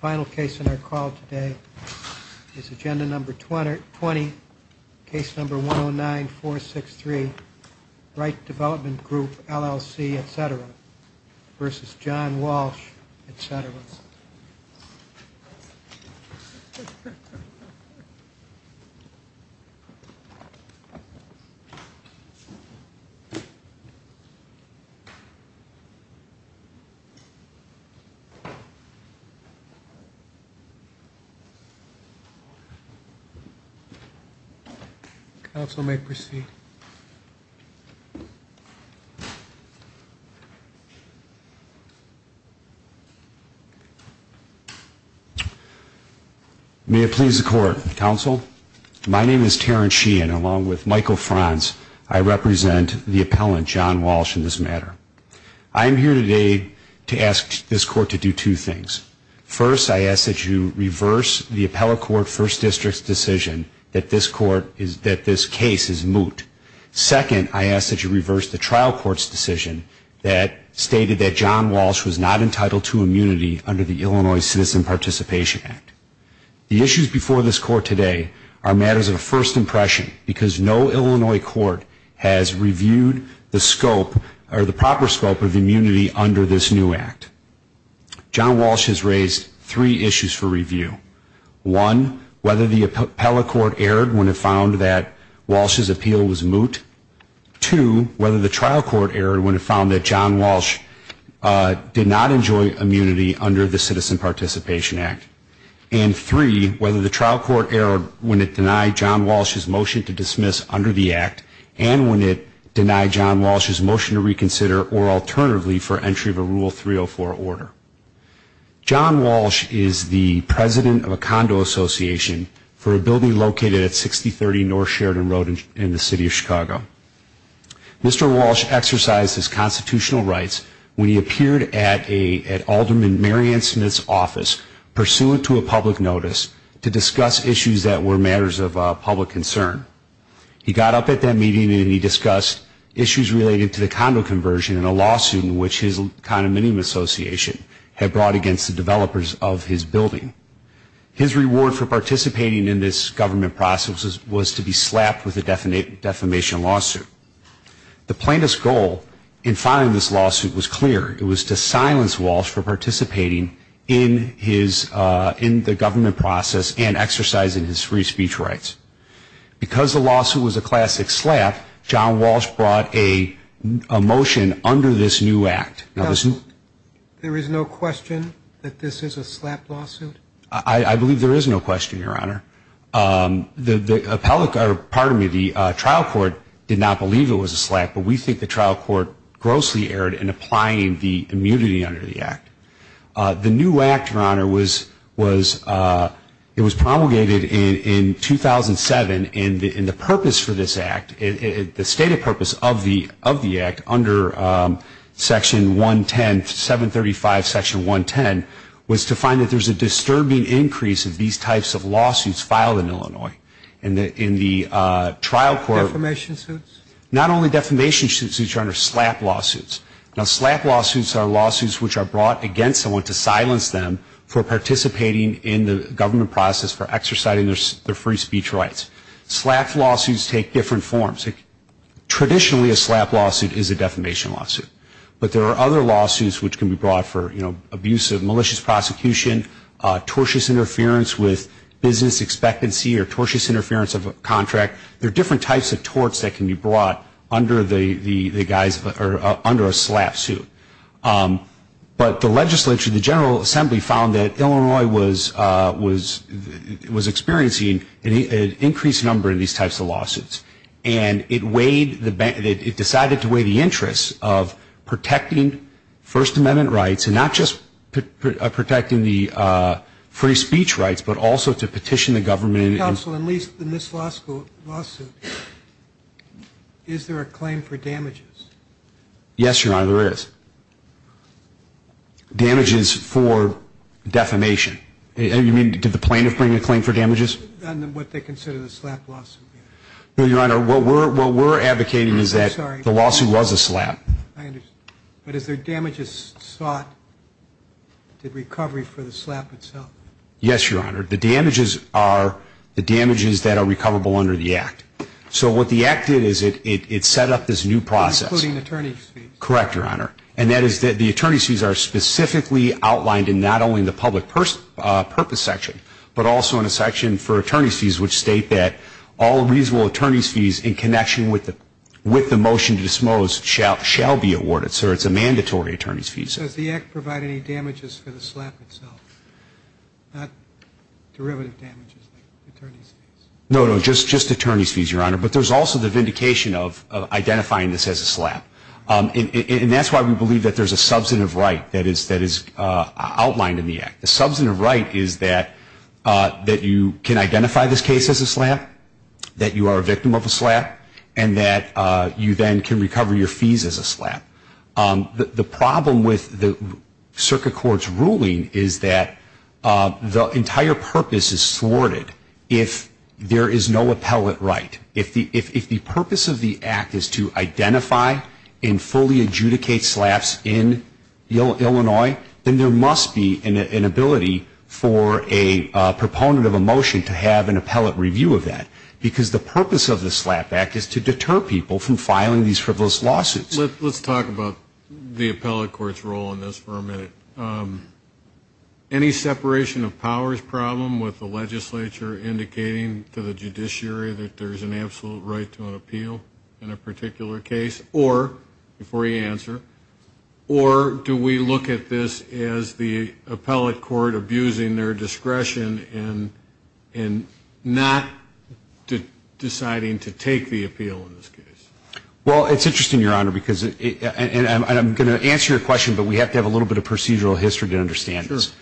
Final case in our call today is agenda number 20, case number 109463, Wright Development Group, LLC, etc. v. John Walsh, etc. May it please the court, counsel. My name is Terrence Sheehan, along with Michael Franz. I represent the appellant, John Walsh, in this matter. I am here today to ask this court to do two things. First, I ask that you reverse the appellate court First District's decision that this case is moot. Second, I ask that you reverse the trial court's decision that stated that John Walsh was not entitled to immunity under the Illinois Citizen Participation Act. The issues before this court today are matters of first impression because no Illinois court has reviewed the scope or the proper scope of immunity under this new act. John Walsh has raised three issues for review. One, whether the appellate court erred when it found that Walsh's appeal was moot. Two, whether the trial court erred when it found that John Walsh did not enjoy immunity under the Citizen Participation Act. And three, whether the trial court erred when it denied John Walsh's motion to dismiss under the act and when it denied John Walsh's motion to reconsider or alternatively for entry of a Rule 304 order. John Walsh is the president of a condo association for a building located at 6030 North Sheridan Road in the city of Chicago. Mr. Walsh exercised his constitutional rights when he appeared at Alderman Mary Ann Smith's office pursuant to a public notice to discuss issues that were matters of public concern. He got up at that meeting and he discussed issues related to the condo conversion and a lawsuit in which his condominium association had brought against the developers of his building. His reward for participating in this government process was to be slapped with a defamation lawsuit. The plaintiff's goal in filing this lawsuit was clear. It was to silence Walsh for participating in the government process and exercising his free speech rights. Because the lawsuit was a classic slap, John Walsh brought a motion under this new act. There is no question that this is a slap lawsuit? I believe there is no question, Your Honor. The trial court did not believe it was a slap, but we think the trial court grossly erred in applying the immunity under the act. The new act, Your Honor, was promulgated in 2007 and the purpose for this act, the stated purpose of the act under Section 110, 735 Section 110, was to find that there is a disturbing increase in these types of lawsuits filed in Illinois. Defamation suits? Not only defamation suits, Your Honor, slap lawsuits. Now, slap lawsuits are lawsuits which are brought against someone to silence them for participating in the government process for exercising their free speech rights. Slap lawsuits take different forms. Traditionally, a slap lawsuit is a defamation lawsuit. But there are other lawsuits which can be brought for, you know, abuse of malicious prosecution, tortuous interference with business expectancy or tortuous interference of a contract. There are different types of torts that can be brought under a slap suit. But the legislature, the General Assembly, found that Illinois was experiencing an increased number in these types of lawsuits. And it decided to weigh the interests of protecting First Amendment rights and not just protecting the free speech rights, but also to petition the government. Counsel, in this lawsuit, is there a claim for damages? Yes, Your Honor, there is. Damages for defamation. You mean, did the plaintiff bring a claim for damages? What they consider the slap lawsuit. No, Your Honor, what we're advocating is that the lawsuit was a slap. I understand. But is there damages sought to recovery for the slap itself? Yes, Your Honor. The damages are the damages that are recoverable under the Act. So what the Act did is it set up this new process. Including attorney's fees. Correct, Your Honor. And that is that the attorney's fees are specifically outlined in not only the public purpose section, but also in a section for attorney's fees, which state that all reasonable attorney's fees in connection with the motion to dispose shall be awarded. So it's a mandatory attorney's fee. Does the Act provide any damages for the slap itself? Not derivative damages like attorney's fees. No, no, just attorney's fees, Your Honor. But there's also the vindication of identifying this as a slap. And that's why we believe that there's a substantive right that is outlined in the Act. The substantive right is that you can identify this case as a slap, that you are a victim of a slap, and that you then can recover your fees as a slap. The problem with the Circuit Court's ruling is that the entire purpose is thwarted if there is no appellate right. If the purpose of the Act is to identify and fully adjudicate slaps in Illinois, then there must be an ability for a proponent of a motion to have an appellate review of that. Because the purpose of the Slap Act is to deter people from filing these frivolous lawsuits. Let's talk about the appellate court's role in this for a minute. Any separation of powers problem with the legislature indicating to the judiciary that there's an absolute right to an appeal in a particular case? Or, before you answer, or do we look at this as the appellate court abusing their discretion in not deciding to take the appeal in this case? Well, it's interesting, Your Honor, because, and I'm going to answer your question, but we have to have a little bit of procedural history to understand this.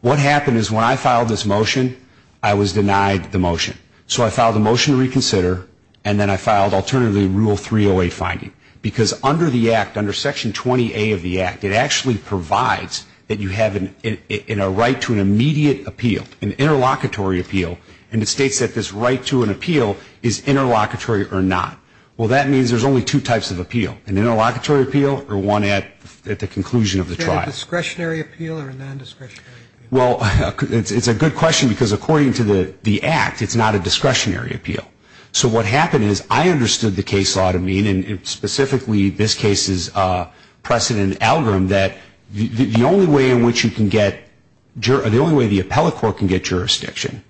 What happened is when I filed this motion, I was denied the motion. So I filed a motion to reconsider, and then I filed alternatively Rule 308 finding. Because under the Act, under Section 20A of the Act, it actually provides that you have a right to an immediate appeal, an interlocutory appeal, and it states that this right to an appeal is interlocutory or not. Well, that means there's only two types of appeal, an interlocutory appeal or one at the conclusion of the trial. Is there a discretionary appeal or a non-discretionary appeal? Well, it's a good question because according to the Act, it's not a discretionary appeal. So what happened is I understood the case law to mean, and specifically this case's precedent algorithm, that the only way in which you can get, the only way the appellate court can get jurisdiction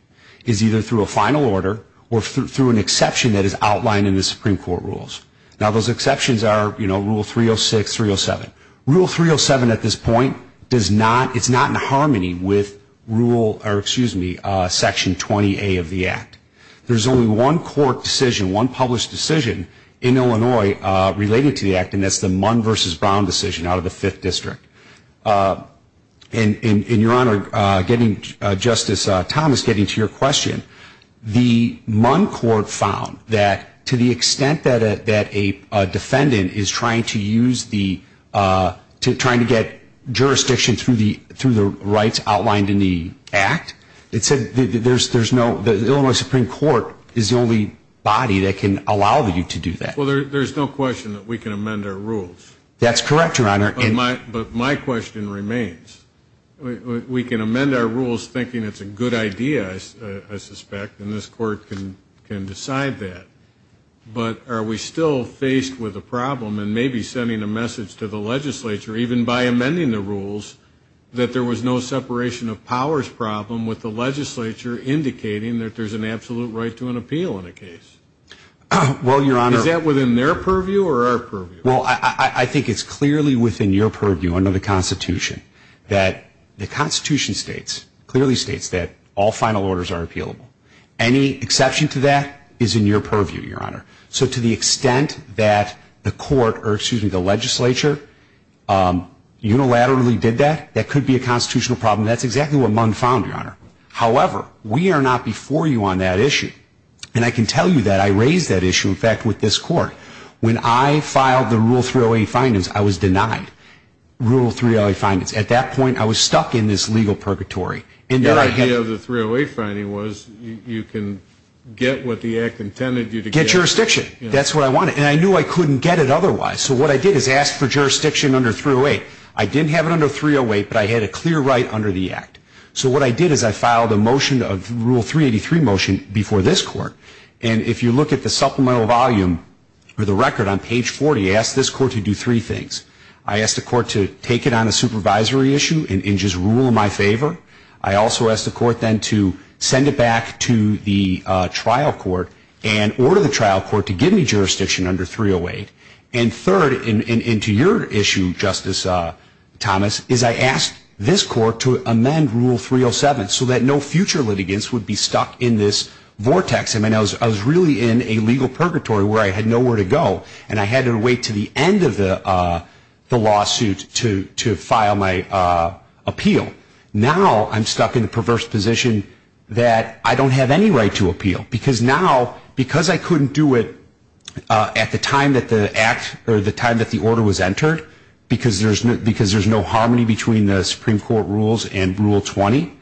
is either through a final order or through an exception that is outlined in the Supreme Court rules. Now, those exceptions are, you know, Rule 306, 307. Rule 307 at this point does not, it's not in harmony with Rule, or excuse me, Section 20A of the Act. There's only one court decision, one published decision in Illinois related to the Act, and that's the Munn v. Brown decision out of the Fifth District. And, Your Honor, getting, Justice Thomas, getting to your question, the Munn court found that to the extent that a defendant is trying to use the, trying to get jurisdiction through the rights outlined in the Act, it said there's no, the Illinois Supreme Court is the only body that can allow you to do that. Well, there's no question that we can amend our rules. That's correct, Your Honor. But my question remains. We can amend our rules thinking it's a good idea, I suspect, and this court can decide that. But are we still faced with a problem in maybe sending a message to the legislature, even by amending the rules, that there was no separation of powers problem with the legislature indicating that there's an absolute right to an appeal in a case? Well, Your Honor. Is that within their purview or our purview? Well, I think it's clearly within your purview under the Constitution that the Constitution states, clearly states that all final orders are appealable. Any exception to that is in your purview, Your Honor. So to the extent that the court, or excuse me, the legislature, unilaterally did that, that could be a constitutional problem. That's exactly what Munn found, Your Honor. However, we are not before you on that issue. And I can tell you that I raised that issue, in fact, with this court. When I filed the Rule 308 findings, I was denied Rule 308 findings. At that point, I was stuck in this legal purgatory. Your idea of the 308 finding was you can get what the Act intended you to get. Get jurisdiction. That's what I wanted. And I knew I couldn't get it otherwise. So what I did is ask for jurisdiction under 308. I didn't have it under 308, but I had a clear right under the Act. So what I did is I filed a motion of Rule 383 motion before this court. And if you look at the supplemental volume for the record on page 40, I asked this court to do three things. I asked the court to take it on a supervisory issue and just rule in my favor. I also asked the court then to send it back to the trial court and order the trial court to give me jurisdiction under 308. And third, and to your issue, Justice Thomas, is I asked this court to amend Rule 307 so that no future litigants would be stuck in this vortex. I mean, I was really in a legal purgatory where I had nowhere to go and I had to wait until the end of the lawsuit to file my appeal. Now I'm stuck in a perverse position that I don't have any right to appeal because now, because I couldn't do it at the time that the Act or the time that the order was entered, because there's no harmony between the Supreme Court rules and Rule 20,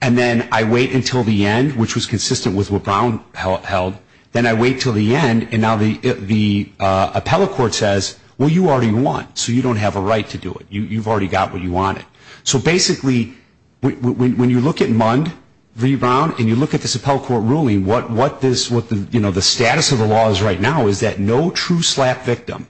and then I wait until the end, which was consistent with what Brown held, then I wait until the end, and now the appellate court says, well, you already won, so you don't have a right to do it. You've already got what you wanted. So basically, when you look at Mund v. Brown and you look at this appellate court ruling, what the status of the law is right now is that no true SLAPP victim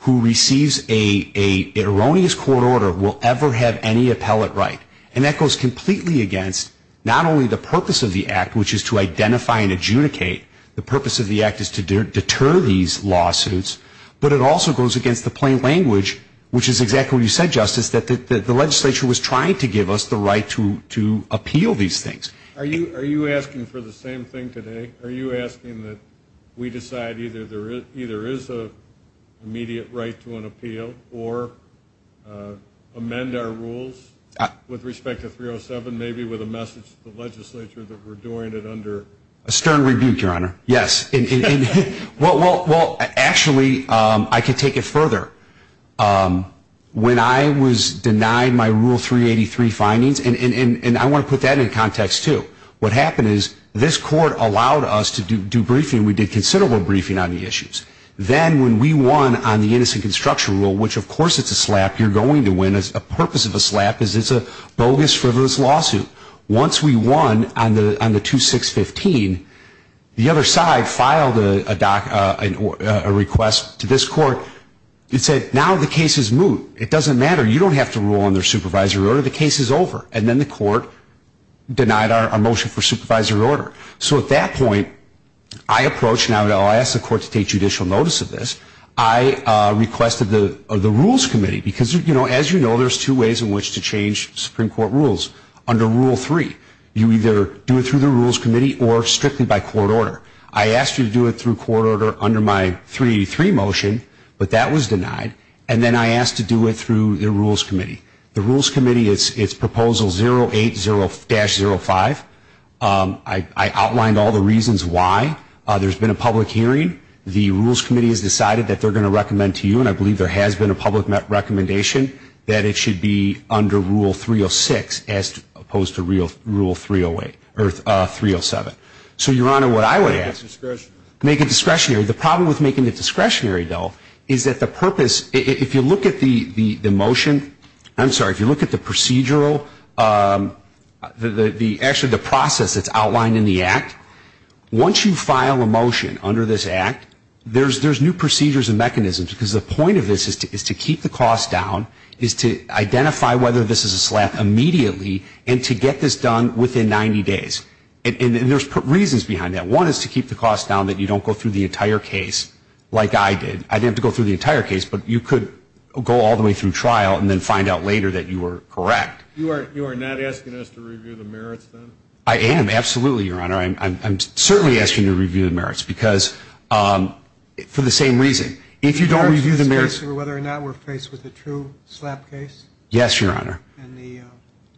who receives an erroneous court order will ever have any appellate right. And that goes completely against not only the purpose of the Act, which is to identify and adjudicate, the purpose of the Act is to deter these lawsuits, but it also goes against the plain language, which is exactly what you said, Justice, that the legislature was trying to give us the right to appeal these things. Are you asking for the same thing today? Are you asking that we decide either there is an immediate right to an appeal or amend our rules with respect to 307, maybe with a message to the legislature that we're doing it under? A stern rebuke, Your Honor. Yes. Well, actually, I could take it further. When I was denied my Rule 383 findings, and I want to put that in context, too, what happened is this court allowed us to do briefing. We did considerable briefing on the issues. Then when we won on the innocent construction rule, which, of course, it's a slap. You're going to win. The purpose of a slap is it's a bogus, frivolous lawsuit. Once we won on the 2615, the other side filed a request to this court. It said, now the case is moot. It doesn't matter. You don't have to rule on their supervisory order. The case is over. And then the court denied our motion for supervisory order. So at that point, I approached and I asked the court to take judicial notice of this. I requested the rules committee because, as you know, there's two ways in which to change Supreme Court rules. Under Rule 3, you either do it through the rules committee or strictly by court order. I asked you to do it through court order under my 383 motion, but that was denied. And then I asked to do it through the rules committee. The rules committee, it's Proposal 080-05. I outlined all the reasons why. There's been a public hearing. The rules committee has decided that they're going to recommend to you, and I believe there has been a public recommendation, that it should be under Rule 306 as opposed to Rule 308 or 307. So, Your Honor, what I would ask is make it discretionary. The problem with making it discretionary, though, is that the purpose, if you look at the motion, I'm sorry, if you look at the procedural, actually the process that's outlined in the act, once you file a motion under this act, there's new procedures and mechanisms, because the point of this is to keep the cost down, is to identify whether this is a slap immediately, and to get this done within 90 days. And there's reasons behind that. One is to keep the cost down that you don't go through the entire case like I did. I didn't have to go through the entire case, but you could go all the way through trial and then find out later that you were correct. You are not asking us to review the merits, then? I am, absolutely, Your Honor. I'm certainly asking you to review the merits, because for the same reason. If you don't review the merits. Whether or not we're faced with a true slap case? Yes, Your Honor. And the...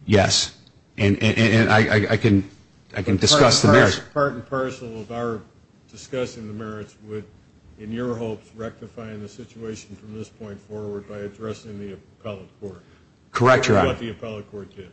Yes. And I can discuss the merits. Part and parcel of our discussion of the merits would, in your hopes, rectify the situation from this point forward by addressing the appellate court. Correct, Your Honor. Or what the appellate court did.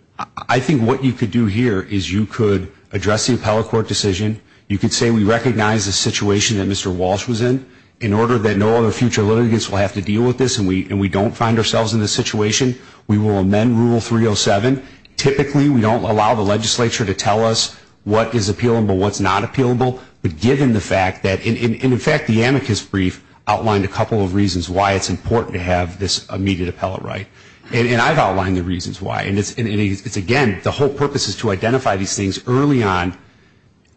I think what you could do here is you could address the appellate court decision. You could say we recognize the situation that Mr. Walsh was in. In order that no other future litigants will have to deal with this and we don't find ourselves in this situation, we will amend Rule 307. Typically, we don't allow the legislature to tell us what is appealable, what's not appealable. But given the fact that... And, in fact, the amicus brief outlined a couple of reasons why it's important to have this immediate appellate right. And I've outlined the reasons why. And it's, again, the whole purpose is to identify these things early on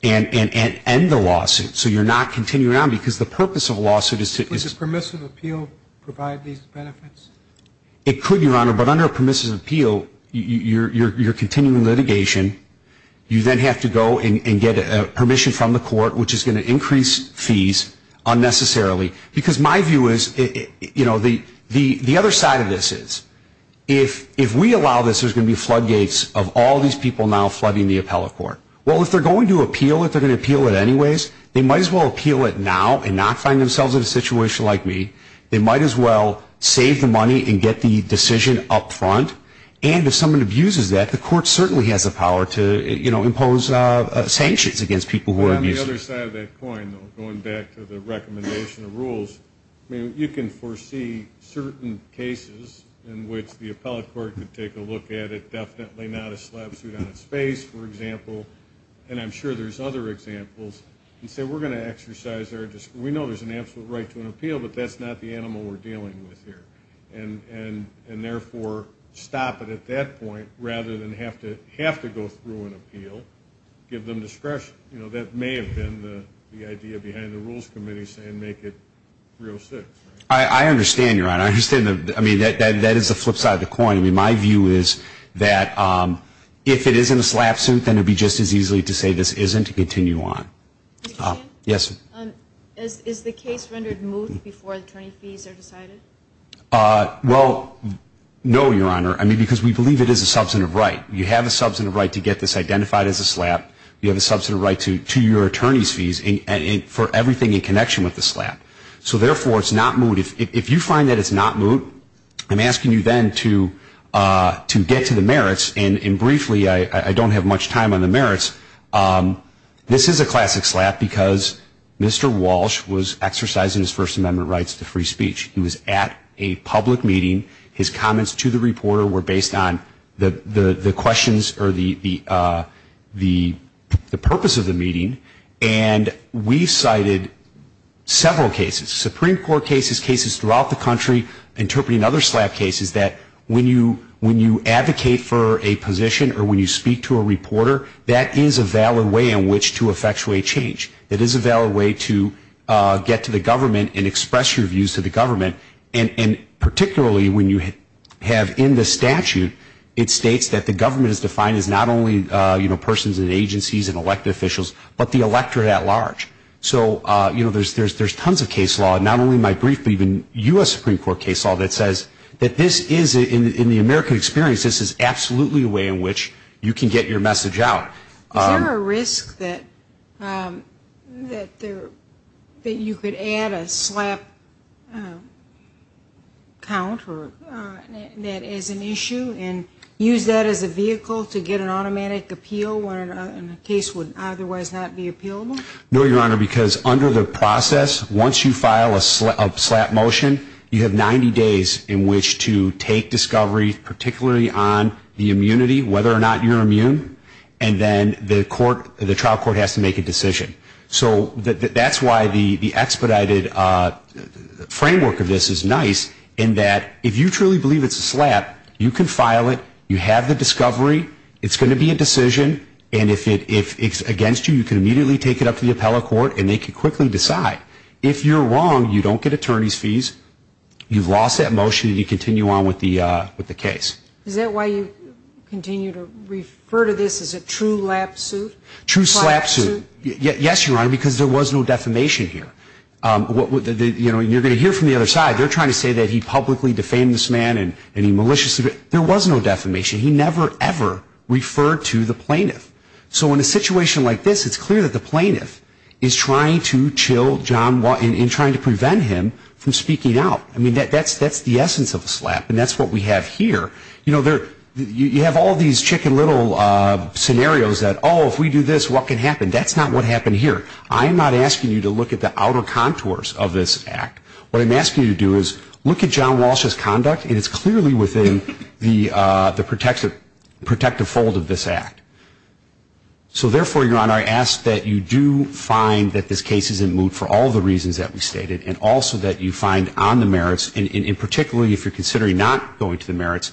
and end the lawsuit so you're not continuing on. Because the purpose of a lawsuit is to... Would a permissive appeal provide these benefits? It could, Your Honor. But under a permissive appeal, you're continuing litigation. You then have to go and get permission from the court, which is going to increase fees unnecessarily. Because my view is, you know, the other side of this is if we allow this, there's going to be floodgates of all these people now flooding the appellate court. Well, if they're going to appeal it, they're going to appeal it anyways. They might as well appeal it now and not find themselves in a situation like me. They might as well save the money and get the decision up front. And if someone abuses that, the court certainly has the power to, you know, impose sanctions against people who are abusive. On the other side of that coin, though, going back to the recommendation of rules, I mean, you can foresee certain cases in which the appellate court could take a look at it, definitely not a slap suit on its face, for example. And I'm sure there's other examples. You say we're going to exercise our discretion. We know there's an absolute right to an appeal, but that's not the animal we're dealing with here. And, therefore, stop it at that point rather than have to go through an appeal, give them discretion. You know, that may have been the idea behind the rules committee saying make it rule six. I understand, Your Honor. I understand. I mean, that is the flip side of the coin. I mean, my view is that if it isn't a slap suit, then it would be just as easily to say this isn't to continue on. Yes? Is the case rendered moot before attorney fees are decided? Well, no, Your Honor. I mean, because we believe it is a substantive right. You have a substantive right to get this identified as a slap. You have a substantive right to your attorney's fees for everything in connection with the slap. So, therefore, it's not moot. If you find that it's not moot, I'm asking you then to get to the merits. And, briefly, I don't have much time on the merits. This is a classic slap because Mr. Walsh was exercising his First Amendment rights to free speech. He was at a public meeting. His comments to the reporter were based on the questions or the purpose of the meeting. And we cited several cases, Supreme Court cases, cases throughout the country, interpreting other slap cases that when you advocate for a position or when you speak to a reporter, that is a valid way in which to effectuate change. It is a valid way to get to the government and express your views to the government. And, particularly, when you have in the statute, it states that the government is defined as not only persons and agencies and elected officials, but the electorate at large. So, you know, there's tons of case law. Not only my brief, but even U.S. Supreme Court case law that says that this is, in the American experience, this is absolutely a way in which you can get your message out. Is there a risk that you could add a slap count that is an issue and use that as a vehicle to get an automatic appeal when a case would otherwise not be appealable? No, Your Honor, because under the process, once you file a slap motion, you have 90 days in which to take discovery, particularly on the immunity, whether or not you're immune. And then the trial court has to make a decision. So that's why the expedited framework of this is nice in that if you truly believe it's a slap, you can file it. You have the discovery. It's going to be a decision. And if it's against you, you can immediately take it up to the appellate court, and they can quickly decide. If you're wrong, you don't get attorney's fees. You've lost that motion, and you continue on with the case. Is that why you continue to refer to this as a true lap suit? True slap suit. Yes, Your Honor, because there was no defamation here. You're going to hear from the other side. They're trying to say that he publicly defamed this man and he maliciously defamed him. There was no defamation. He never, ever referred to the plaintiff. So in a situation like this, it's clear that the plaintiff is trying to chill John Walsh and trying to prevent him from speaking out. I mean, that's the essence of a slap, and that's what we have here. You know, you have all these chicken little scenarios that, oh, if we do this, what can happen? That's not what happened here. I'm not asking you to look at the outer contours of this act. What I'm asking you to do is look at John Walsh's conduct, and it's clearly within the protective fold of this act. So therefore, Your Honor, I ask that you do find that this case is in moot for all the reasons that we stated and also that you find on the merits, and particularly if you're considering not going to the merits,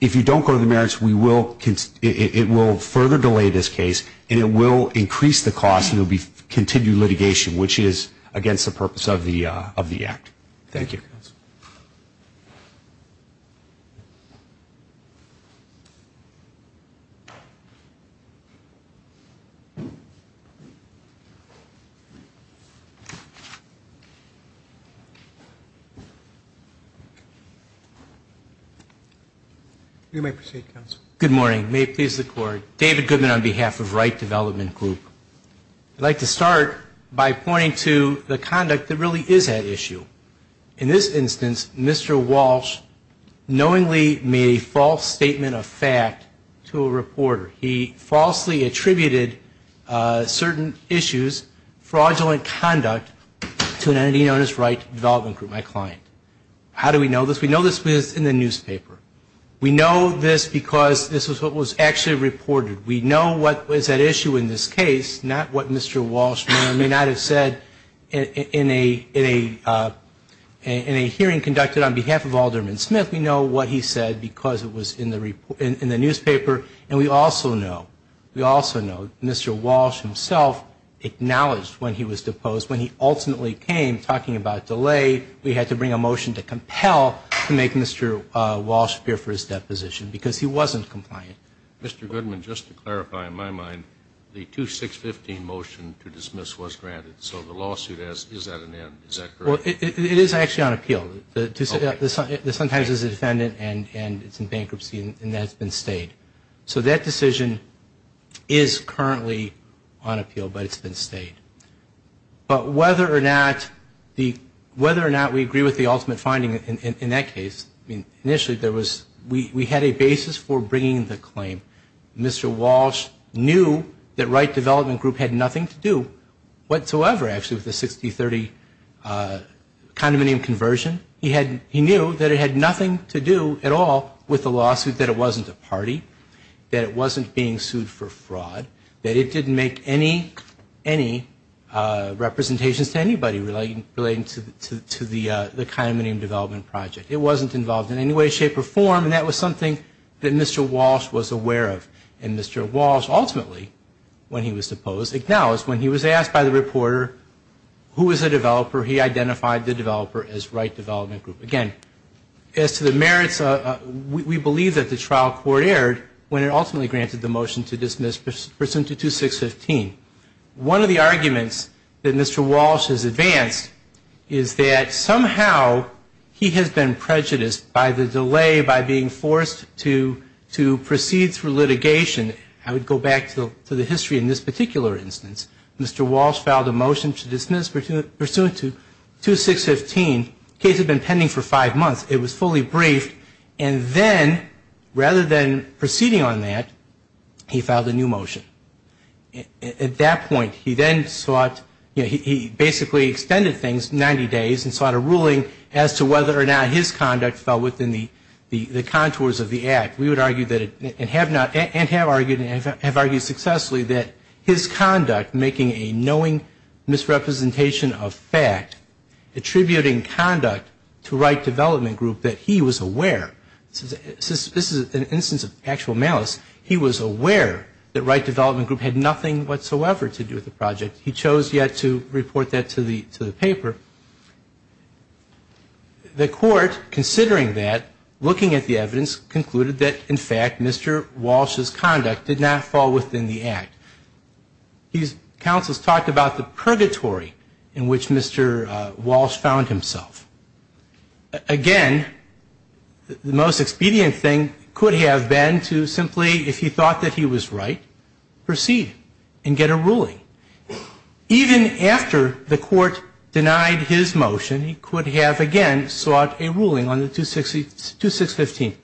if you don't go to the merits, it will further delay this case, and it will increase the cost, and it will continue litigation, which is against the purpose of the act. Thank you. You may proceed, counsel. Good morning. May it please the Court. David Goodman on behalf of Wright Development Group. I'd like to start by pointing to the conduct that really is at issue. In this instance, Mr. Walsh knowingly made a false statement of fact to a reporter. He falsely attributed certain issues, fraudulent conduct, to an entity known as Wright Development Group, my client. How do we know this? We know this because it's in the newspaper. We know this because this is what was actually reported. We know what was at issue in this case, not what Mr. Walsh may or may not have said. In a hearing conducted on behalf of Alderman Smith, we know what he said because it was in the newspaper, and we also know Mr. Walsh himself acknowledged when he was deposed. When he ultimately came talking about delay, we had to bring a motion to compel to make Mr. Walsh appear for his deposition because he wasn't compliant. Mr. Goodman, just to clarify, in my mind, the 2-6-15 motion to dismiss was granted, so the lawsuit is at an end. Is that correct? It is actually on appeal. This sometimes is a defendant and it's in bankruptcy and that's been stayed. So that decision is currently on appeal, but it's been stayed. But whether or not we agree with the ultimate finding in that case, initially we had a basis for bringing the claim. Mr. Walsh knew that Wright Development Group had nothing to do whatsoever, actually, with the 60-30 condominium conversion. He knew that it had nothing to do at all with the lawsuit, that it wasn't a party, that it wasn't being sued for fraud, that it didn't make any representations to anybody relating to the condominium development project. It wasn't involved in any way, shape, or form, and that was something that Mr. Walsh was aware of. And Mr. Walsh ultimately, when he was deposed, acknowledged when he was asked by the reporter who was the developer, he identified the developer as Wright Development Group. Again, as to the merits, we believe that the trial court erred when it ultimately granted the motion to dismiss pursuant to 2615. One of the arguments that Mr. Walsh has advanced is that somehow he has been prejudiced by the delay, by being forced to proceed through litigation. I would go back to the history in this particular instance. Mr. Walsh filed a motion to dismiss pursuant to 2615, the case had been pending for five months, it was fully briefed, and then, rather than proceeding on that, he filed a new motion. At that point, he then sought, he basically extended things 90 days and sought a ruling as to whether or not his conduct fell within the contours of the act. We would argue that, and have not, and have argued, and have argued successfully, that his conduct, making a knowing misrepresentation of fact, attributing conduct to Wright Development Group, that he was aware. This is an instance of actual malice. He was aware that Wright Development Group had nothing whatsoever to do with the project. He chose yet to report that to the paper. The court, considering that, looking at the evidence, concluded that, in fact, Mr. Walsh's conduct did not fall within the act. His counsels talked about the purgatory in which Mr. Walsh found himself. Again, the most expedient thing could have been to simply, if he thought that he was right, proceed and get a ruling. Even after the court denied his motion, he could have, again, sought a ruling on the 2615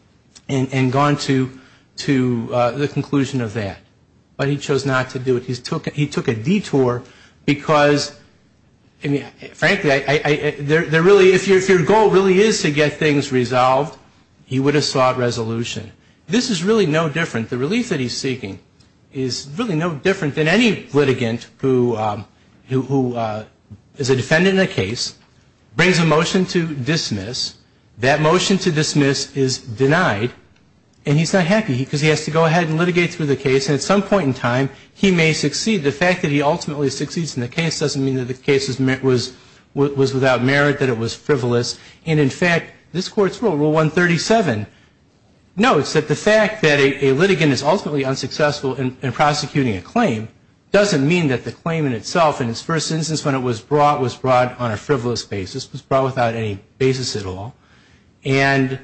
and gone to the conclusion of that. But he chose not to do it. He took a detour because, frankly, if your goal really is to get things resolved, he would have sought resolution. This is really no different. The relief that he's seeking is really no different than any litigant who is a defendant in a case, brings a motion to dismiss. That motion to dismiss is denied, and he's not happy because he has to go ahead and litigate through the case. And at some point in time, he may succeed. The fact that he ultimately succeeds in the case doesn't mean that the case was without merit, that it was frivolous. And in fact, this Court's rule, Rule 137, notes that the fact that a litigant is ultimately unsuccessful in prosecuting a claim doesn't mean that the claim in itself, in its first instance when it was brought, was brought on a frivolous basis. It was brought without any basis at all. And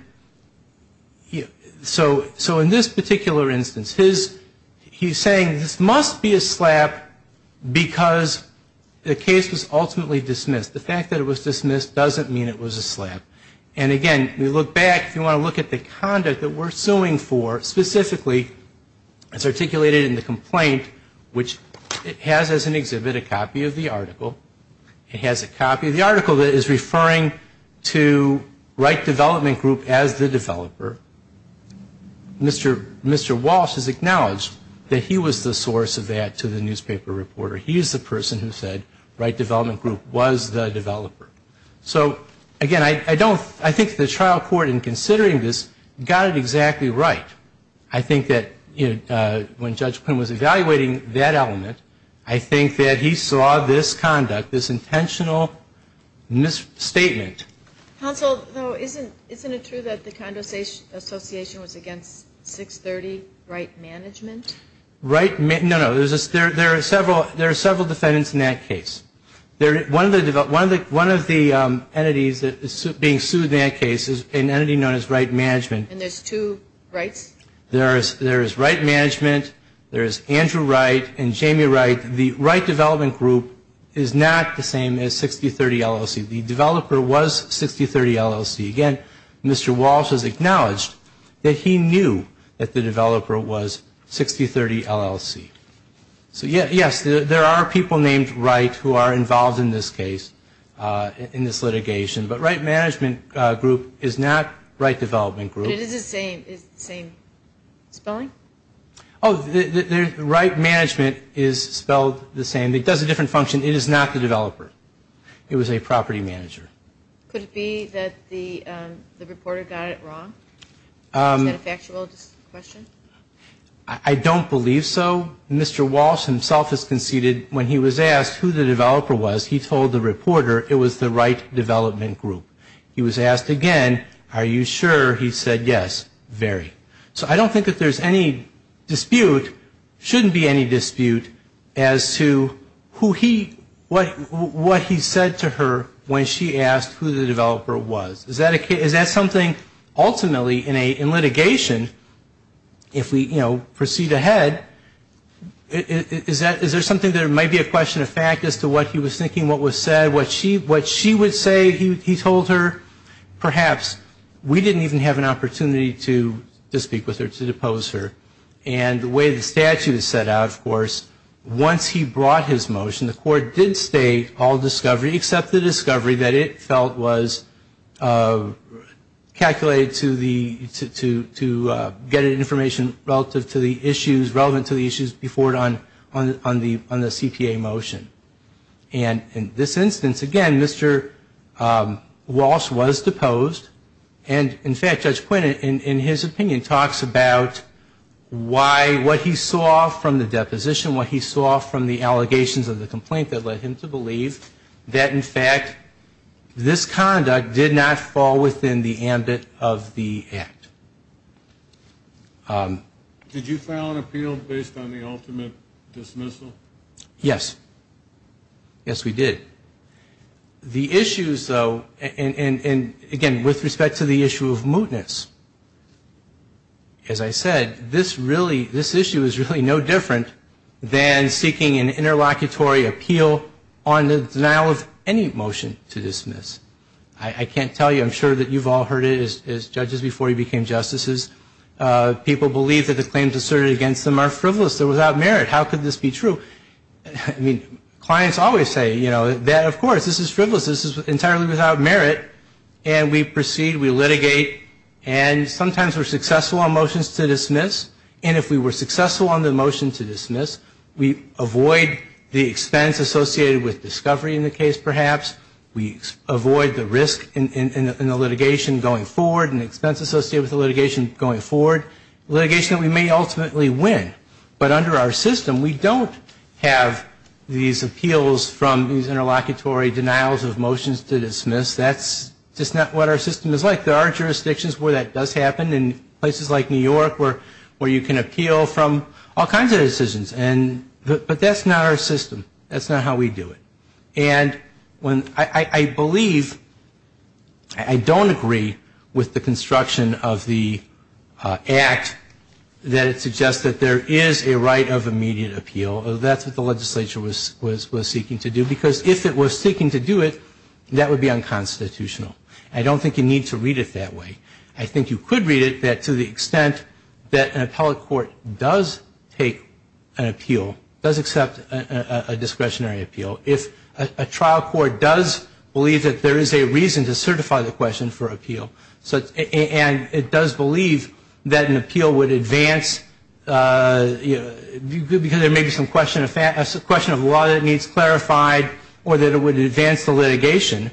so in this particular instance, he's saying, this must be a slap because the case was ultimately dismissed. The fact that it was dismissed doesn't mean it was a slap. And again, we look back, if you want to look at the conduct that we're suing for specifically, it's articulated in the complaint, which it has as an exhibit a copy of the article. It has a copy of the article that is referring to Wright Development Group as the developer. Mr. Walsh has acknowledged that he was the source of that to the newspaper reporter. He is the person who said Wright Development Group was the developer. So again, I think the trial court in considering this got it exactly right. I think that when Judge Quinn was evaluating that element, I think that he saw this conduct, this intentional misstatement. Counsel, though, isn't it true that the Condo Association was against 630 Wright Management? No, no, there are several defendants in that case. One of the entities that is being sued in that case is an entity known as Wright Management. And there's two Wrights? There is Wright Management, there is Andrew Wright, and Jamie Wright. The Wright Development Group is not the same as 6030 LLC. The developer was 6030 LLC. Again, Mr. Walsh has acknowledged that he knew that the developer was 6030 LLC. So yes, there are people named Wright who are involved in this case, in this litigation. But Wright Management Group is not Wright Development Group. It is the same spelling? Oh, Wright Management is spelled the same. It does a different function. It is not the developer. It was a property manager. Could it be that the reporter got it wrong? Is that a factual question? I don't believe so. Mr. Walsh himself has conceded when he was asked who the developer was, he told the reporter it was the Wright Development Group. He was asked again, are you sure? He said yes, very. So I don't think that there's any dispute, shouldn't be any dispute, as to who he, what he said to her when she asked who the developer was. Is that something ultimately in litigation, if we, you know, proceed ahead, is there something that might be a question of fact as to what he was thinking, what was said, what she would say he told her? Perhaps we didn't even have an opportunity to speak with her, to depose her. And the way the statute is set out, of course, once he brought his motion, the court did state all discovery, except the discovery that it felt was the developer. And the court calculated to the, to get information relative to the issues, relevant to the issues before it on the CPA motion. And in this instance, again, Mr. Walsh was deposed. And in fact, Judge Quinn, in his opinion, talks about why, what he saw from the deposition, what he saw from the allegations of the complaint that led him to believe that, in fact, this conduct did not fall within the ambit of the act. Did you file an appeal based on the ultimate dismissal? Yes. Yes, we did. The issues, though, and again, with respect to the issue of mootness, as I said, this really, this issue is really no different than seeking an interlocutory appeal on the motion to dismiss. I can't tell you. I'm sure that you've all heard it as judges before you became justices. People believe that the claims asserted against them are frivolous. They're without merit. How could this be true? I mean, clients always say, you know, that, of course, this is frivolous. This is entirely without merit. And we proceed. We litigate. And sometimes we're successful on motions to dismiss. And if we were successful on the motion to dismiss, we avoid the expense associated with discovery in the case, perhaps. We avoid the risk in the litigation going forward and expense associated with the litigation going forward. Litigation that we may ultimately win. But under our system, we don't have these appeals from these interlocutory denials of motions to dismiss. That's just not what our system is like. There are jurisdictions where that does happen in places like New York where you can appeal from all kinds of decisions. But that's not our system. That's not how we do it. And I believe, I don't agree with the construction of the Act that it suggests that there is a right of immediate appeal. That's what the legislature was seeking to do. Because if it was seeking to do it, that would be unconstitutional. I don't think you need to read it that way. I think you could read it that to the extent that an appellate court does take an appeal, does accept a discretionary appeal, if a trial court does believe that there is a reason to certify the question for appeal, and it does believe that an appeal would advance, because there may be some question of law that needs clarified, or that it would advance the litigation,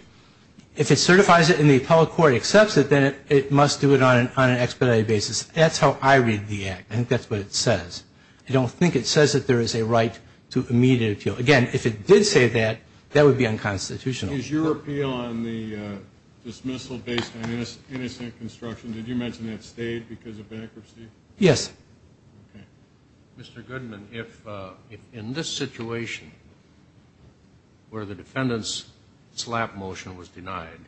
if it certifies it and the appellate court accepts it, then it must do it on an expedited basis. That's how I read the Act. I think that's what it says. I don't think it says that there is a right to immediate appeal. Again, if it did say that, that would be unconstitutional. Is your appeal on the dismissal based on innocent construction, did you mention that stayed because of bankruptcy? Yes. Mr. Goodman, if in this situation, where the defendant's slap motion was denied,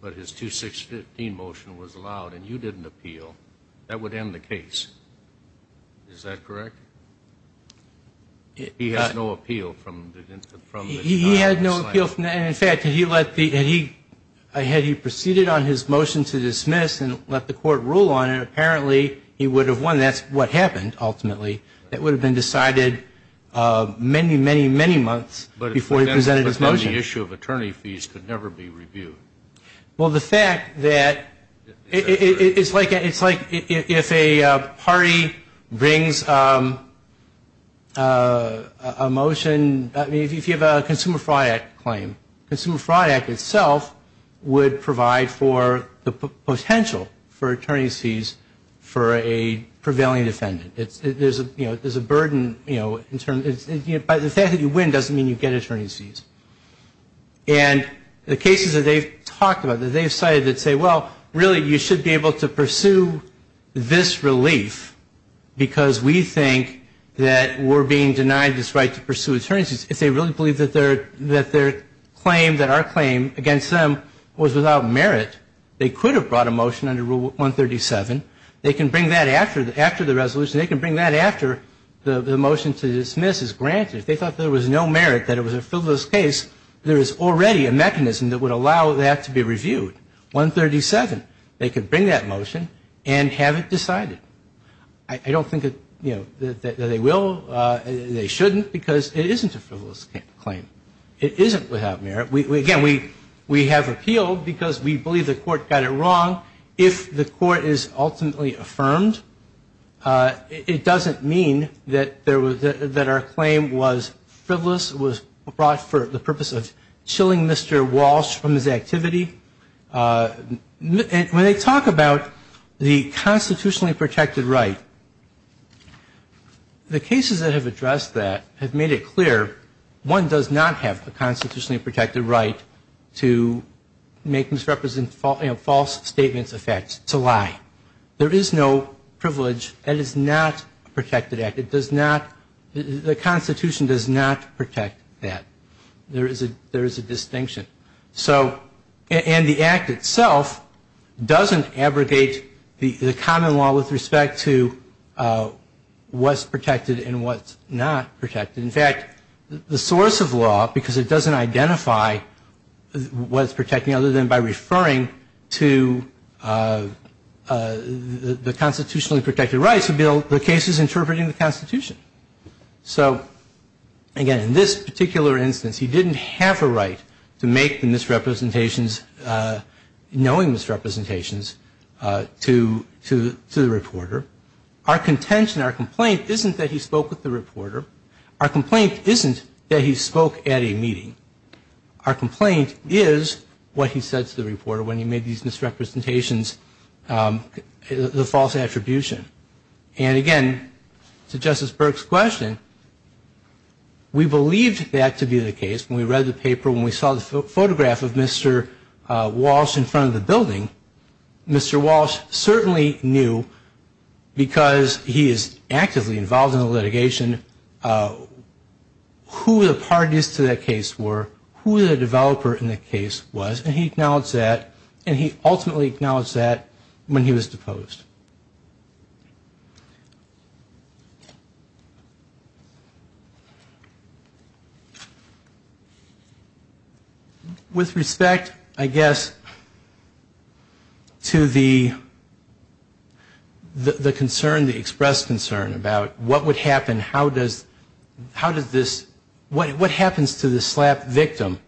but his 216 motion was allowed and you didn't appeal, that would end the case. Is that correct? He has no appeal from the slap motion. He had no appeal. In fact, had he proceeded on his motion to dismiss and let the court rule on it, apparently he would have won. That's what happened, ultimately. That would have been decided many, many, many months before he presented his motion. But then the issue of attorney fees could never be reviewed. Well, the fact that it's like if a party brings a motion, if you have a Consumer Fraud Act claim, Consumer Fraud Act itself would provide for the potential for attorney fees for a prevailing defendant. There's a burden, but the fact that you win doesn't mean you get attorney fees. And the cases that they've talked about, that they've cited that say, well, really, you should be able to pursue this relief because we think that we're being denied this right to pursue attorney fees, if they really believe that their claim, that our claim against them was without merit, they could have brought a motion under Rule 137. They can bring that after the resolution. They can bring that after the motion to dismiss is granted. If they thought there was no merit, that it was a frivolous case, there is already a mechanism that would allow that to be reviewed, 137. They could bring that motion and have it decided. I don't think that they will, they shouldn't, because it isn't a frivolous claim. It isn't without merit. Again, we have appealed because we believe the court got it wrong. If the court is ultimately affirmed, it doesn't mean that our claim was frivolous, it was brought for the purpose of chilling Mr. Walsh from his activity. When they talk about the constitutionally protected right, the cases that have addressed that have made it clear one does not have a constitutionally protected right to make false statements of facts, to lie. There is no privilege that is not a protected act. The constitution does not protect that. There is a distinction. And the act itself doesn't abrogate the common law with respect to what's protected and what's not protected. In fact, the source of law, because it doesn't identify what it's protecting, other than by referring to the constitutionally protected rights, the case is interpreting the constitution. So again, in this particular instance, he didn't have a right to make the misrepresentations, the false attribution. And again, to Justice Burke's question, we believed that to be the case. When we read the paper, when we saw the photograph of Mr. Walsh in front of the building, Mr. Walsh certainly knew that he had a right to make the misrepresentations. And we believe that to be the case. Because he is actively involved in the litigation, who the parties to that case were, who the developer in the case was, and he ultimately acknowledged that when he was deposed. With respect, I guess, to the concern, the expressed concern about what would happen, what happens to the SLAPP victim?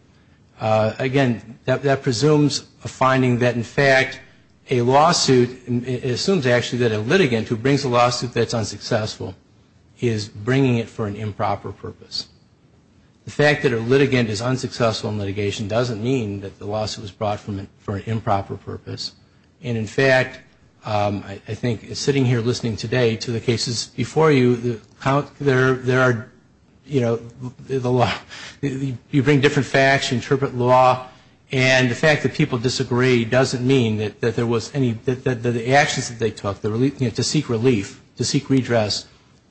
Again, that presumes a finding that in fact a lawsuit, it assumes actually that a litigant who brings a lawsuit that's unsuccessful is bringing it for an improper purpose. The fact that a litigant is unsuccessful in litigation doesn't mean that the lawsuit was brought for an improper purpose. And in fact, I think sitting here listening today to the cases before you, there are, you know, you bring different facts, you interpret law, and the fact that people disagree doesn't mean that there was any, that the actions that they took, to seek relief, to seek redress,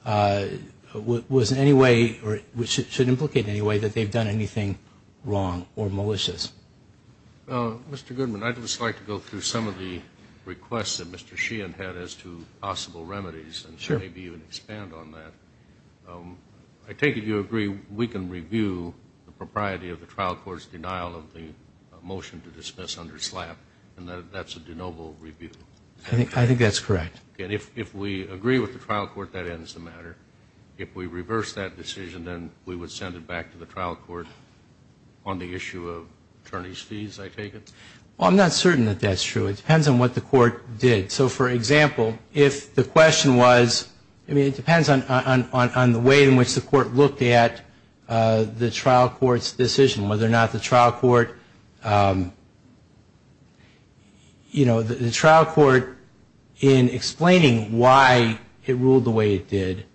was in any way, or should implicate in any way that they've done anything wrong or malicious. Well, Mr. Goodman, I'd just like to go through some of the requests that Mr. Sheehan had as to possible remedies, and maybe even expand on that. I take it you agree we can review the propriety of the trial court's denial of the motion to dismiss under SLAPP, and that that's a de novo review? I think that's correct. And if we agree with the trial court, that ends the matter. If we reverse that decision, then we would send it back to the trial court on the issue of attorney's fees, I take it? Well, I'm not certain that that's true. It depends on what the court did. So, for example, if the question was, I mean, it depends on the way in which the court looked at the trial court's decision, whether or not the trial court, you know, the trial court, in explaining why it ruled the way it did,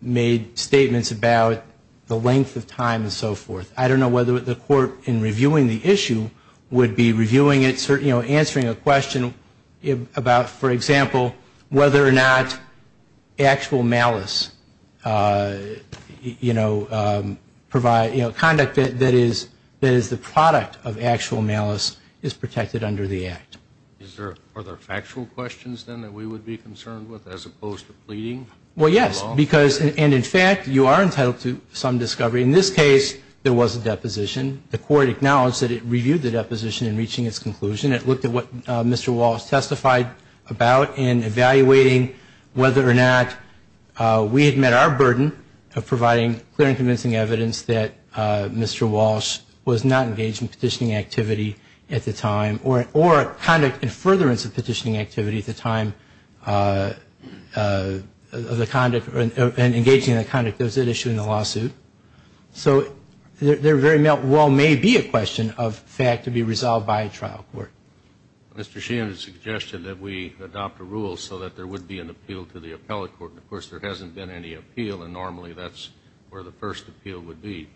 made statements about the length of time and so forth. I don't know whether the court, in reviewing the issue, would be reviewing it, you know, answering a question about, for example, whether or not actual malice, you know, conduct that is the product of actual malice is protected under the act. Are there factual questions, then, that we would be concerned with, as opposed to pleading? Well, yes, because, and in fact, you are entitled to some discovery. In this case, there was a deposition. The court acknowledged that it reviewed the deposition in reaching its conclusion. It looked at what Mr. Walsh testified about in evaluating whether or not we had met our burden of providing clear and convincing evidence that Mr. Walsh was not engaged in petitioning activity at the time or conduct in furtherance of petitioning activity at the time of the conduct and engaging in the conduct that was at issue in the lawsuit. So there very well may be a question of fact to be resolved by a trial court. Mr. Sheehan has suggested that we adopt a rule so that there would be an appeal to the appellate court. Of course, there hasn't been any appeal, and normally that's where the first appeal would be.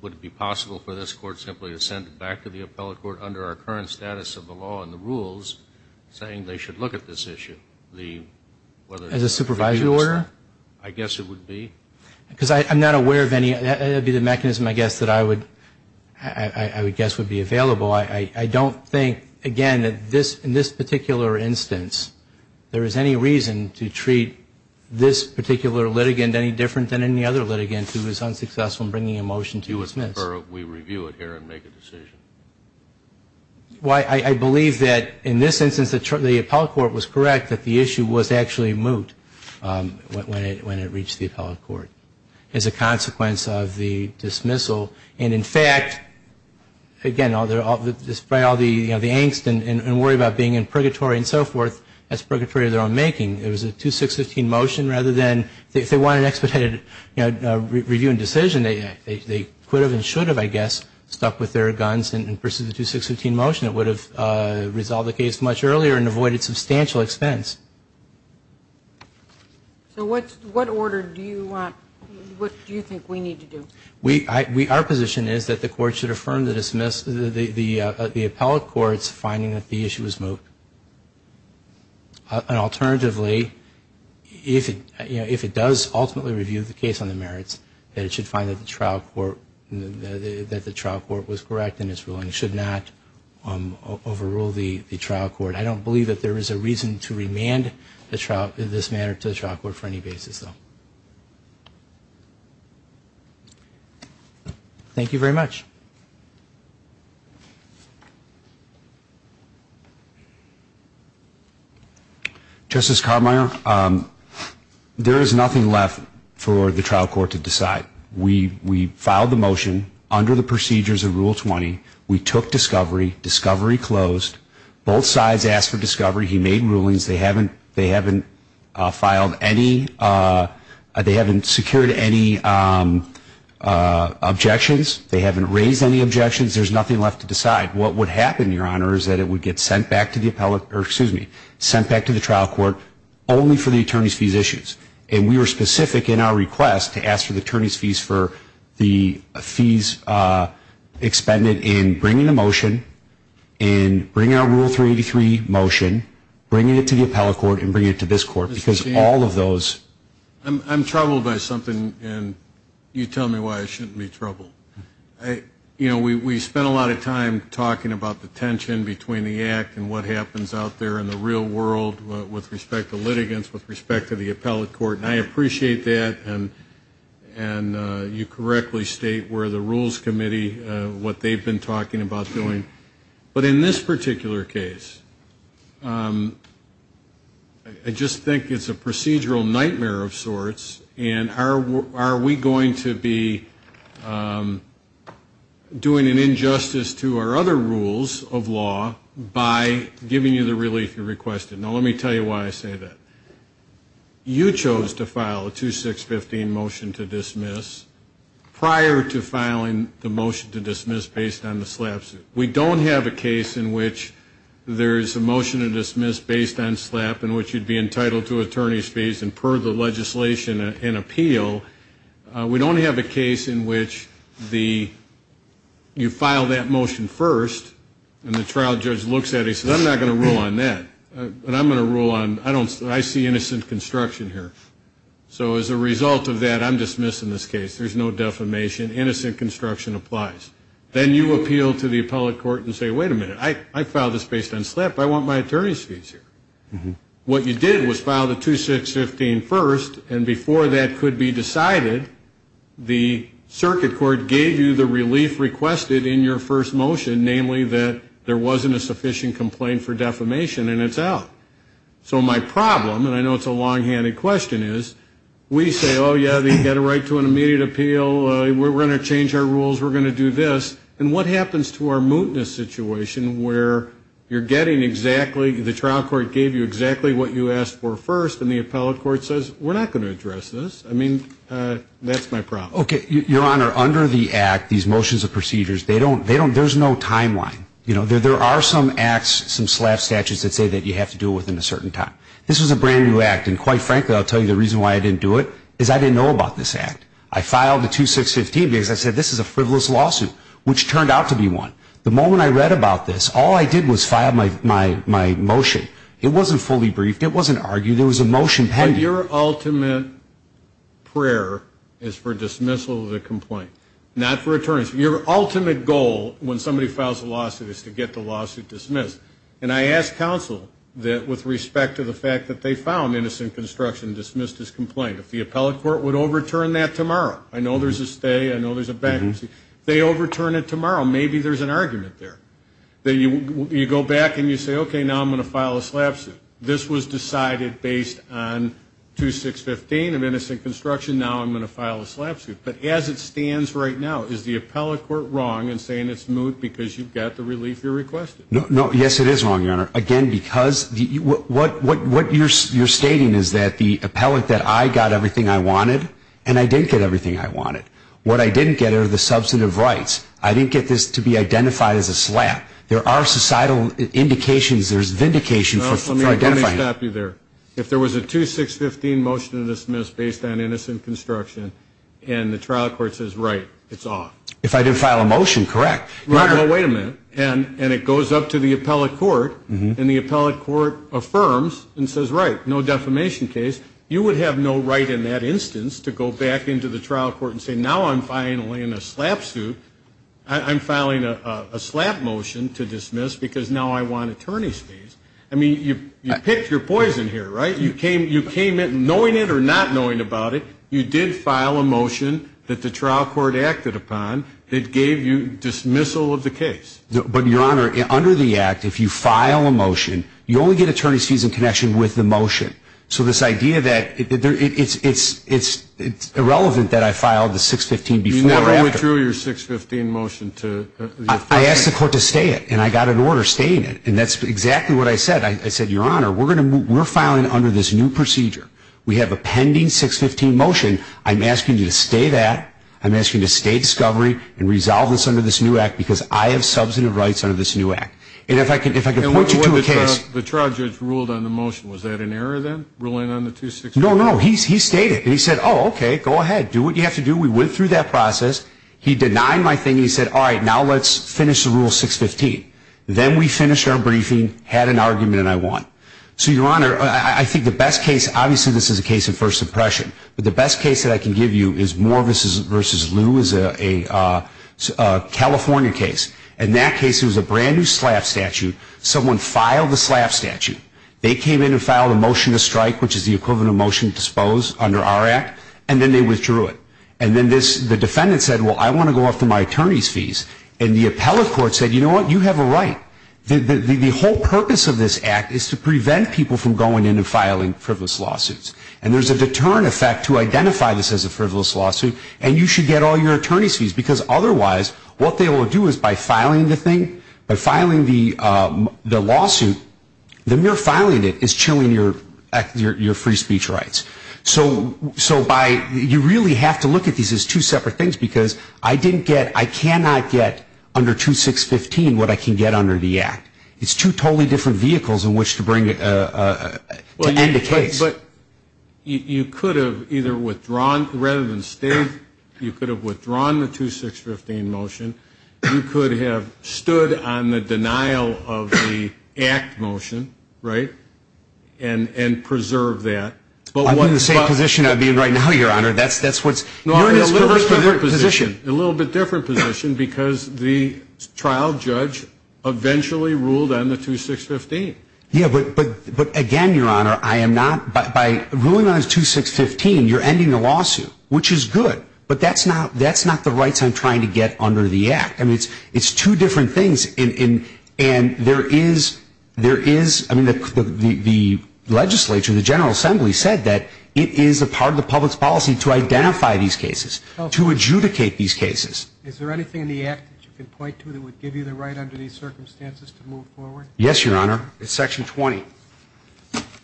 Would it be possible for this court simply to send it back to the appellate court under our current status of the law and the rules saying they should look at this issue? As a supervisory order? I guess it would be. Because I'm not aware of any. That would be the mechanism, I guess, that I would guess would be available. I don't think, again, that in this particular instance there is any reason to treat this particular litigant any different than any other litigant who is unsuccessful in bringing a motion to dismiss. I believe that in this instance the appellate court was correct that the issue was actually moot when it reached the appellate court as a consequence of the dismissal. And in fact, again, despite all the angst and worry about being in purgatory and so forth, that's purgatory of their own making. It was a 2-6-15 motion rather than if they wanted an expedited review and decision, they could have and should have, I guess, stuck with their guns and pursued the 2-6-15 motion. It would have resolved the case much earlier and avoided substantial expense. So what order do you think we need to do? Our position is that the court should affirm the dismissal, the appellate court's finding that the issue was moot. And alternatively, if it does ultimately review the case on the merits, then it should find that the trial court was correct in its ruling. It should not overrule the trial court. I don't believe that there is a reason to remand this matter to the trial court for any basis, though. Thank you very much. Justice Carbiner, there is nothing left for the trial court to decide. We filed the motion under the procedures of Rule 20. We took discovery, discovery closed, both sides asked for discovery, he made rulings, they haven't filed any, they haven't secured any objections, they haven't raised any objections, there's nothing left to decide. What would happen, Your Honor, is that it would get sent back to the trial court only for the attorney's fees issues. And we were specific in our request to ask for the attorney's fees for the fees expended in bringing the motion and bringing our Rule 383 motion, bringing it to the appellate court and bringing it to this court, because all of those... I'm troubled by something, and you tell me why I shouldn't be troubled. You know, we spent a lot of time talking about the tension between the Act and what happens out there in the real world with respect to litigants, with respect to the appellate court, and I appreciate that, and you correctly state where the Rules Committee, what they've been talking about doing. But in this particular case, I just think it's a procedural nightmare of sorts, and are we going to be doing an injustice to our other rules of law by giving you the relief you requested? Now, let me tell you why I say that. You chose to file a 2615 motion to dismiss prior to filing the motion to dismiss based on the SLAP suit. We don't have a case in which there's a motion to dismiss based on SLAP in which you'd be entitled to attorney's fees and per the legislation and appeal. We don't have a case in which the, you file that motion first, and the trial judge looks at it and says, well, I'm not going to rule on that, but I'm going to rule on, I see innocent construction here. So as a result of that, I'm dismissing this case. There's no defamation. Innocent construction applies. Then you appeal to the appellate court and say, wait a minute, I filed this based on SLAP, but I want my attorney's fees here. What you did was file the 2615 first, and before that could be decided, the circuit court gave you the relief requested in your first motion, namely that there wasn't a sufficient complaint for defamation, and it's out. So my problem, and I know it's a long-handed question, is we say, oh, yeah, you've got a right to an immediate appeal, we're going to change our rules, we're going to do this, and what happens to our mootness situation where you're getting exactly, the trial court gave you exactly what you asked for first, and the appellate court says, we're not going to address this. I mean, that's my problem. Your Honor, under the act, these motions of procedures, there's no timeline. There are some acts, some SLAP statutes that say that you have to do it within a certain time. This was a brand-new act, and quite frankly, I'll tell you the reason why I didn't do it is I didn't know about this act. I filed the 2615 because I said this is a frivolous lawsuit, which turned out to be one. The moment I read about this, all I did was file my motion. It wasn't fully briefed, it wasn't argued, there was a motion pending. But your ultimate prayer is for dismissal of the complaint, not for attorneys. Your ultimate goal when somebody files a lawsuit is to get the lawsuit dismissed, and I ask counsel that with respect to the fact that they found innocent construction and dismissed his complaint, if the appellate court would overturn that tomorrow. I know there's a stay, I know there's a bankruptcy. If they overturn it tomorrow, maybe there's an argument there. You go back and you say, okay, now I'm going to file a SLAP suit. This was decided based on 2615 of innocent construction, now I'm going to file a SLAP suit. But as it stands right now, is the appellate court wrong in saying it's moot because you've got the relief you're requesting? No, yes it is wrong, Your Honor. Again, because what you're stating is that the appellate, that I got everything I wanted, and I didn't get everything I wanted. What I didn't get are the substantive rights. I didn't get this to be identified as a SLAP. There are societal indications, there's vindication for identifying it. Let me stop you there. If there was a 2615 motion to dismiss based on innocent construction, and the trial court says, right, it's off. If I did file a motion, correct. Well, wait a minute. And it goes up to the appellate court, and the appellate court affirms and says, right, no defamation case. You would have no right in that instance to go back into the trial court and say, now I'm filing a SLAP suit. I'm filing a SLAP motion to dismiss because now I want attorney's fees. I mean, you picked your poison here, right? You came in knowing it or not knowing about it. You did file a motion that the trial court acted upon that gave you dismissal of the case. But, Your Honor, under the act, if you file a motion, you only get attorney's fees in connection with the motion. So this idea that it's irrelevant that I filed the 615 before or after. You never withdrew your 615 motion to the appellate court. I asked the court to stay it, and I got an order stating it, and that's exactly what I said. I said, Your Honor, we're filing under this new procedure. We have a pending 615 motion. I'm asking you to stay that. I'm asking you to stay discovery and resolve this under this new act because I have substantive rights under this new act. And if I can point you to a case. The trial judge ruled on the motion. Was that an error then, ruling on the 264? No, no. He stayed it, and he said, oh, okay, go ahead. Do what you have to do. We went through that process. He denied my thing. He said, all right, now let's finish the Rule 615. Then we finished our briefing, had an argument, and I won. So, Your Honor, I think the best case, obviously this is a case of first impression, but the best case that I can give you is Morris v. They came in and filed a motion to strike, which is the equivalent of motion to dispose under our act, and then they withdrew it. And then the defendant said, well, I want to go off to my attorney's fees, and the appellate court said, you know what, you have a right. The whole purpose of this act is to prevent people from going in and filing frivolous lawsuits. And there's a deterrent effect to identify this as a frivolous lawsuit, and you should get all your attorney's fees because otherwise, what they will do is by filing the thing, by filing the lawsuit, the mere filing it is chilling your free speech rights. So you really have to look at these as two separate things because I cannot get under 2615 what I can get under the act. It's two totally different vehicles in which to end a case. But you could have either withdrawn, rather than stayed, you could have withdrawn the 2615 motion. You could have stood on the denial of the act motion, right, and preserved that. I'm in the same position I'm in right now, Your Honor. You're in a little bit different position because the trial judge eventually ruled on the 2615. Yeah, but again, Your Honor, I am not, by ruling on the 2615, you're ending the lawsuit, which is good. But that's not the rights I'm trying to get under the act. I mean, it's two different things, and there is, I mean, the legislature, the General Assembly said that it is a part of the public's policy to identify these cases, to adjudicate these cases. Is there anything in the act that you can point to that would give you the right under these circumstances to move forward? Yes, Your Honor, it's Section 20,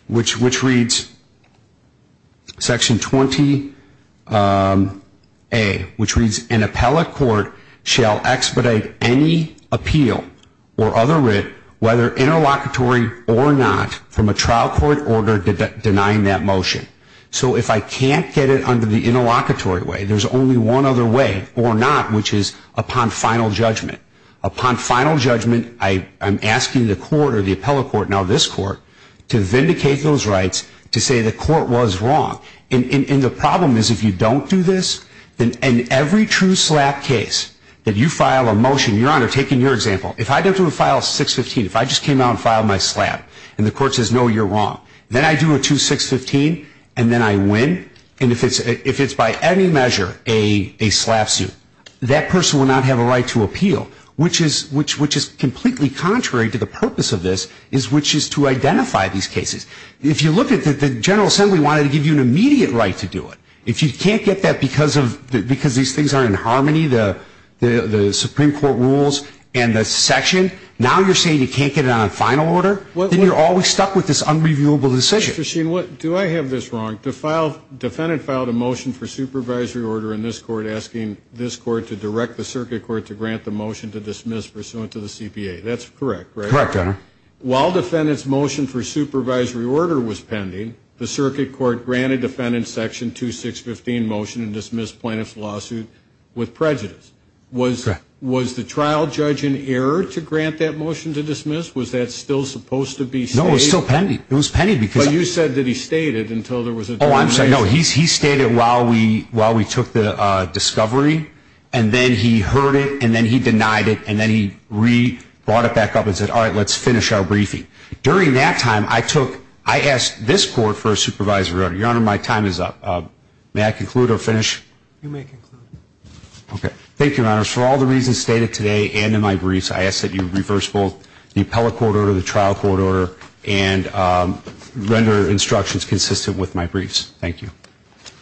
which reads, Section 20A, which reads, an appellate court shall expedite any appeal or other writ, whether interlocutory or not, from a trial court order denying that motion. So if I can't get it under the interlocutory way, there's only one other way, or not, which is upon final judgment. Upon final judgment, I'm asking the court, or the appellate court, now this court, to vindicate those rights, to say the court was wrong. And the problem is, if you don't do this, then in every true SLAPP case that you file a motion, Your Honor, taking your example, if I do a file 615, if I just came out and filed my SLAPP, and the court says, no, you're wrong, then I do a 2615, and then I win, and if it's by any measure a SLAPP suit, that person will not have a right to appeal. Which is completely contrary to the purpose of this, which is to identify these cases. If you look at the General Assembly wanted to give you an immediate right to do it. If you can't get that because these things are in harmony, the Supreme Court rules and the section, now you're saying you can't get it on a final order? Then you're always stuck with this unreviewable decision. Mr. Sheen, do I have this wrong? Defendant filed a motion for supervisory order in this court asking this court to direct the circuit court to grant the motion to dismiss pursuant to the CPA. That's correct, right? Correct, Your Honor. While defendant's motion for supervisory order was pending, the circuit court granted defendant's section 2615 motion to dismiss plaintiff's lawsuit with prejudice. Was the trial judge in error to grant that motion to dismiss? Was that still supposed to be stated? No, it was still pending. But you said that he stated until there was a determination. Oh, I'm sorry, no, he stated while we took the discovery, and then he heard it, and then he denied it, and then he brought it back up and said, all right, let's finish our briefing. During that time, I asked this court for a supervisory order. Your Honor, my time is up. May I conclude or finish? Thank you, Your Honor. For all the reasons stated today and in my briefs, I ask that you reverse both the appellate court order, the trial court order, and render instructions consistent with my briefs. Thank you.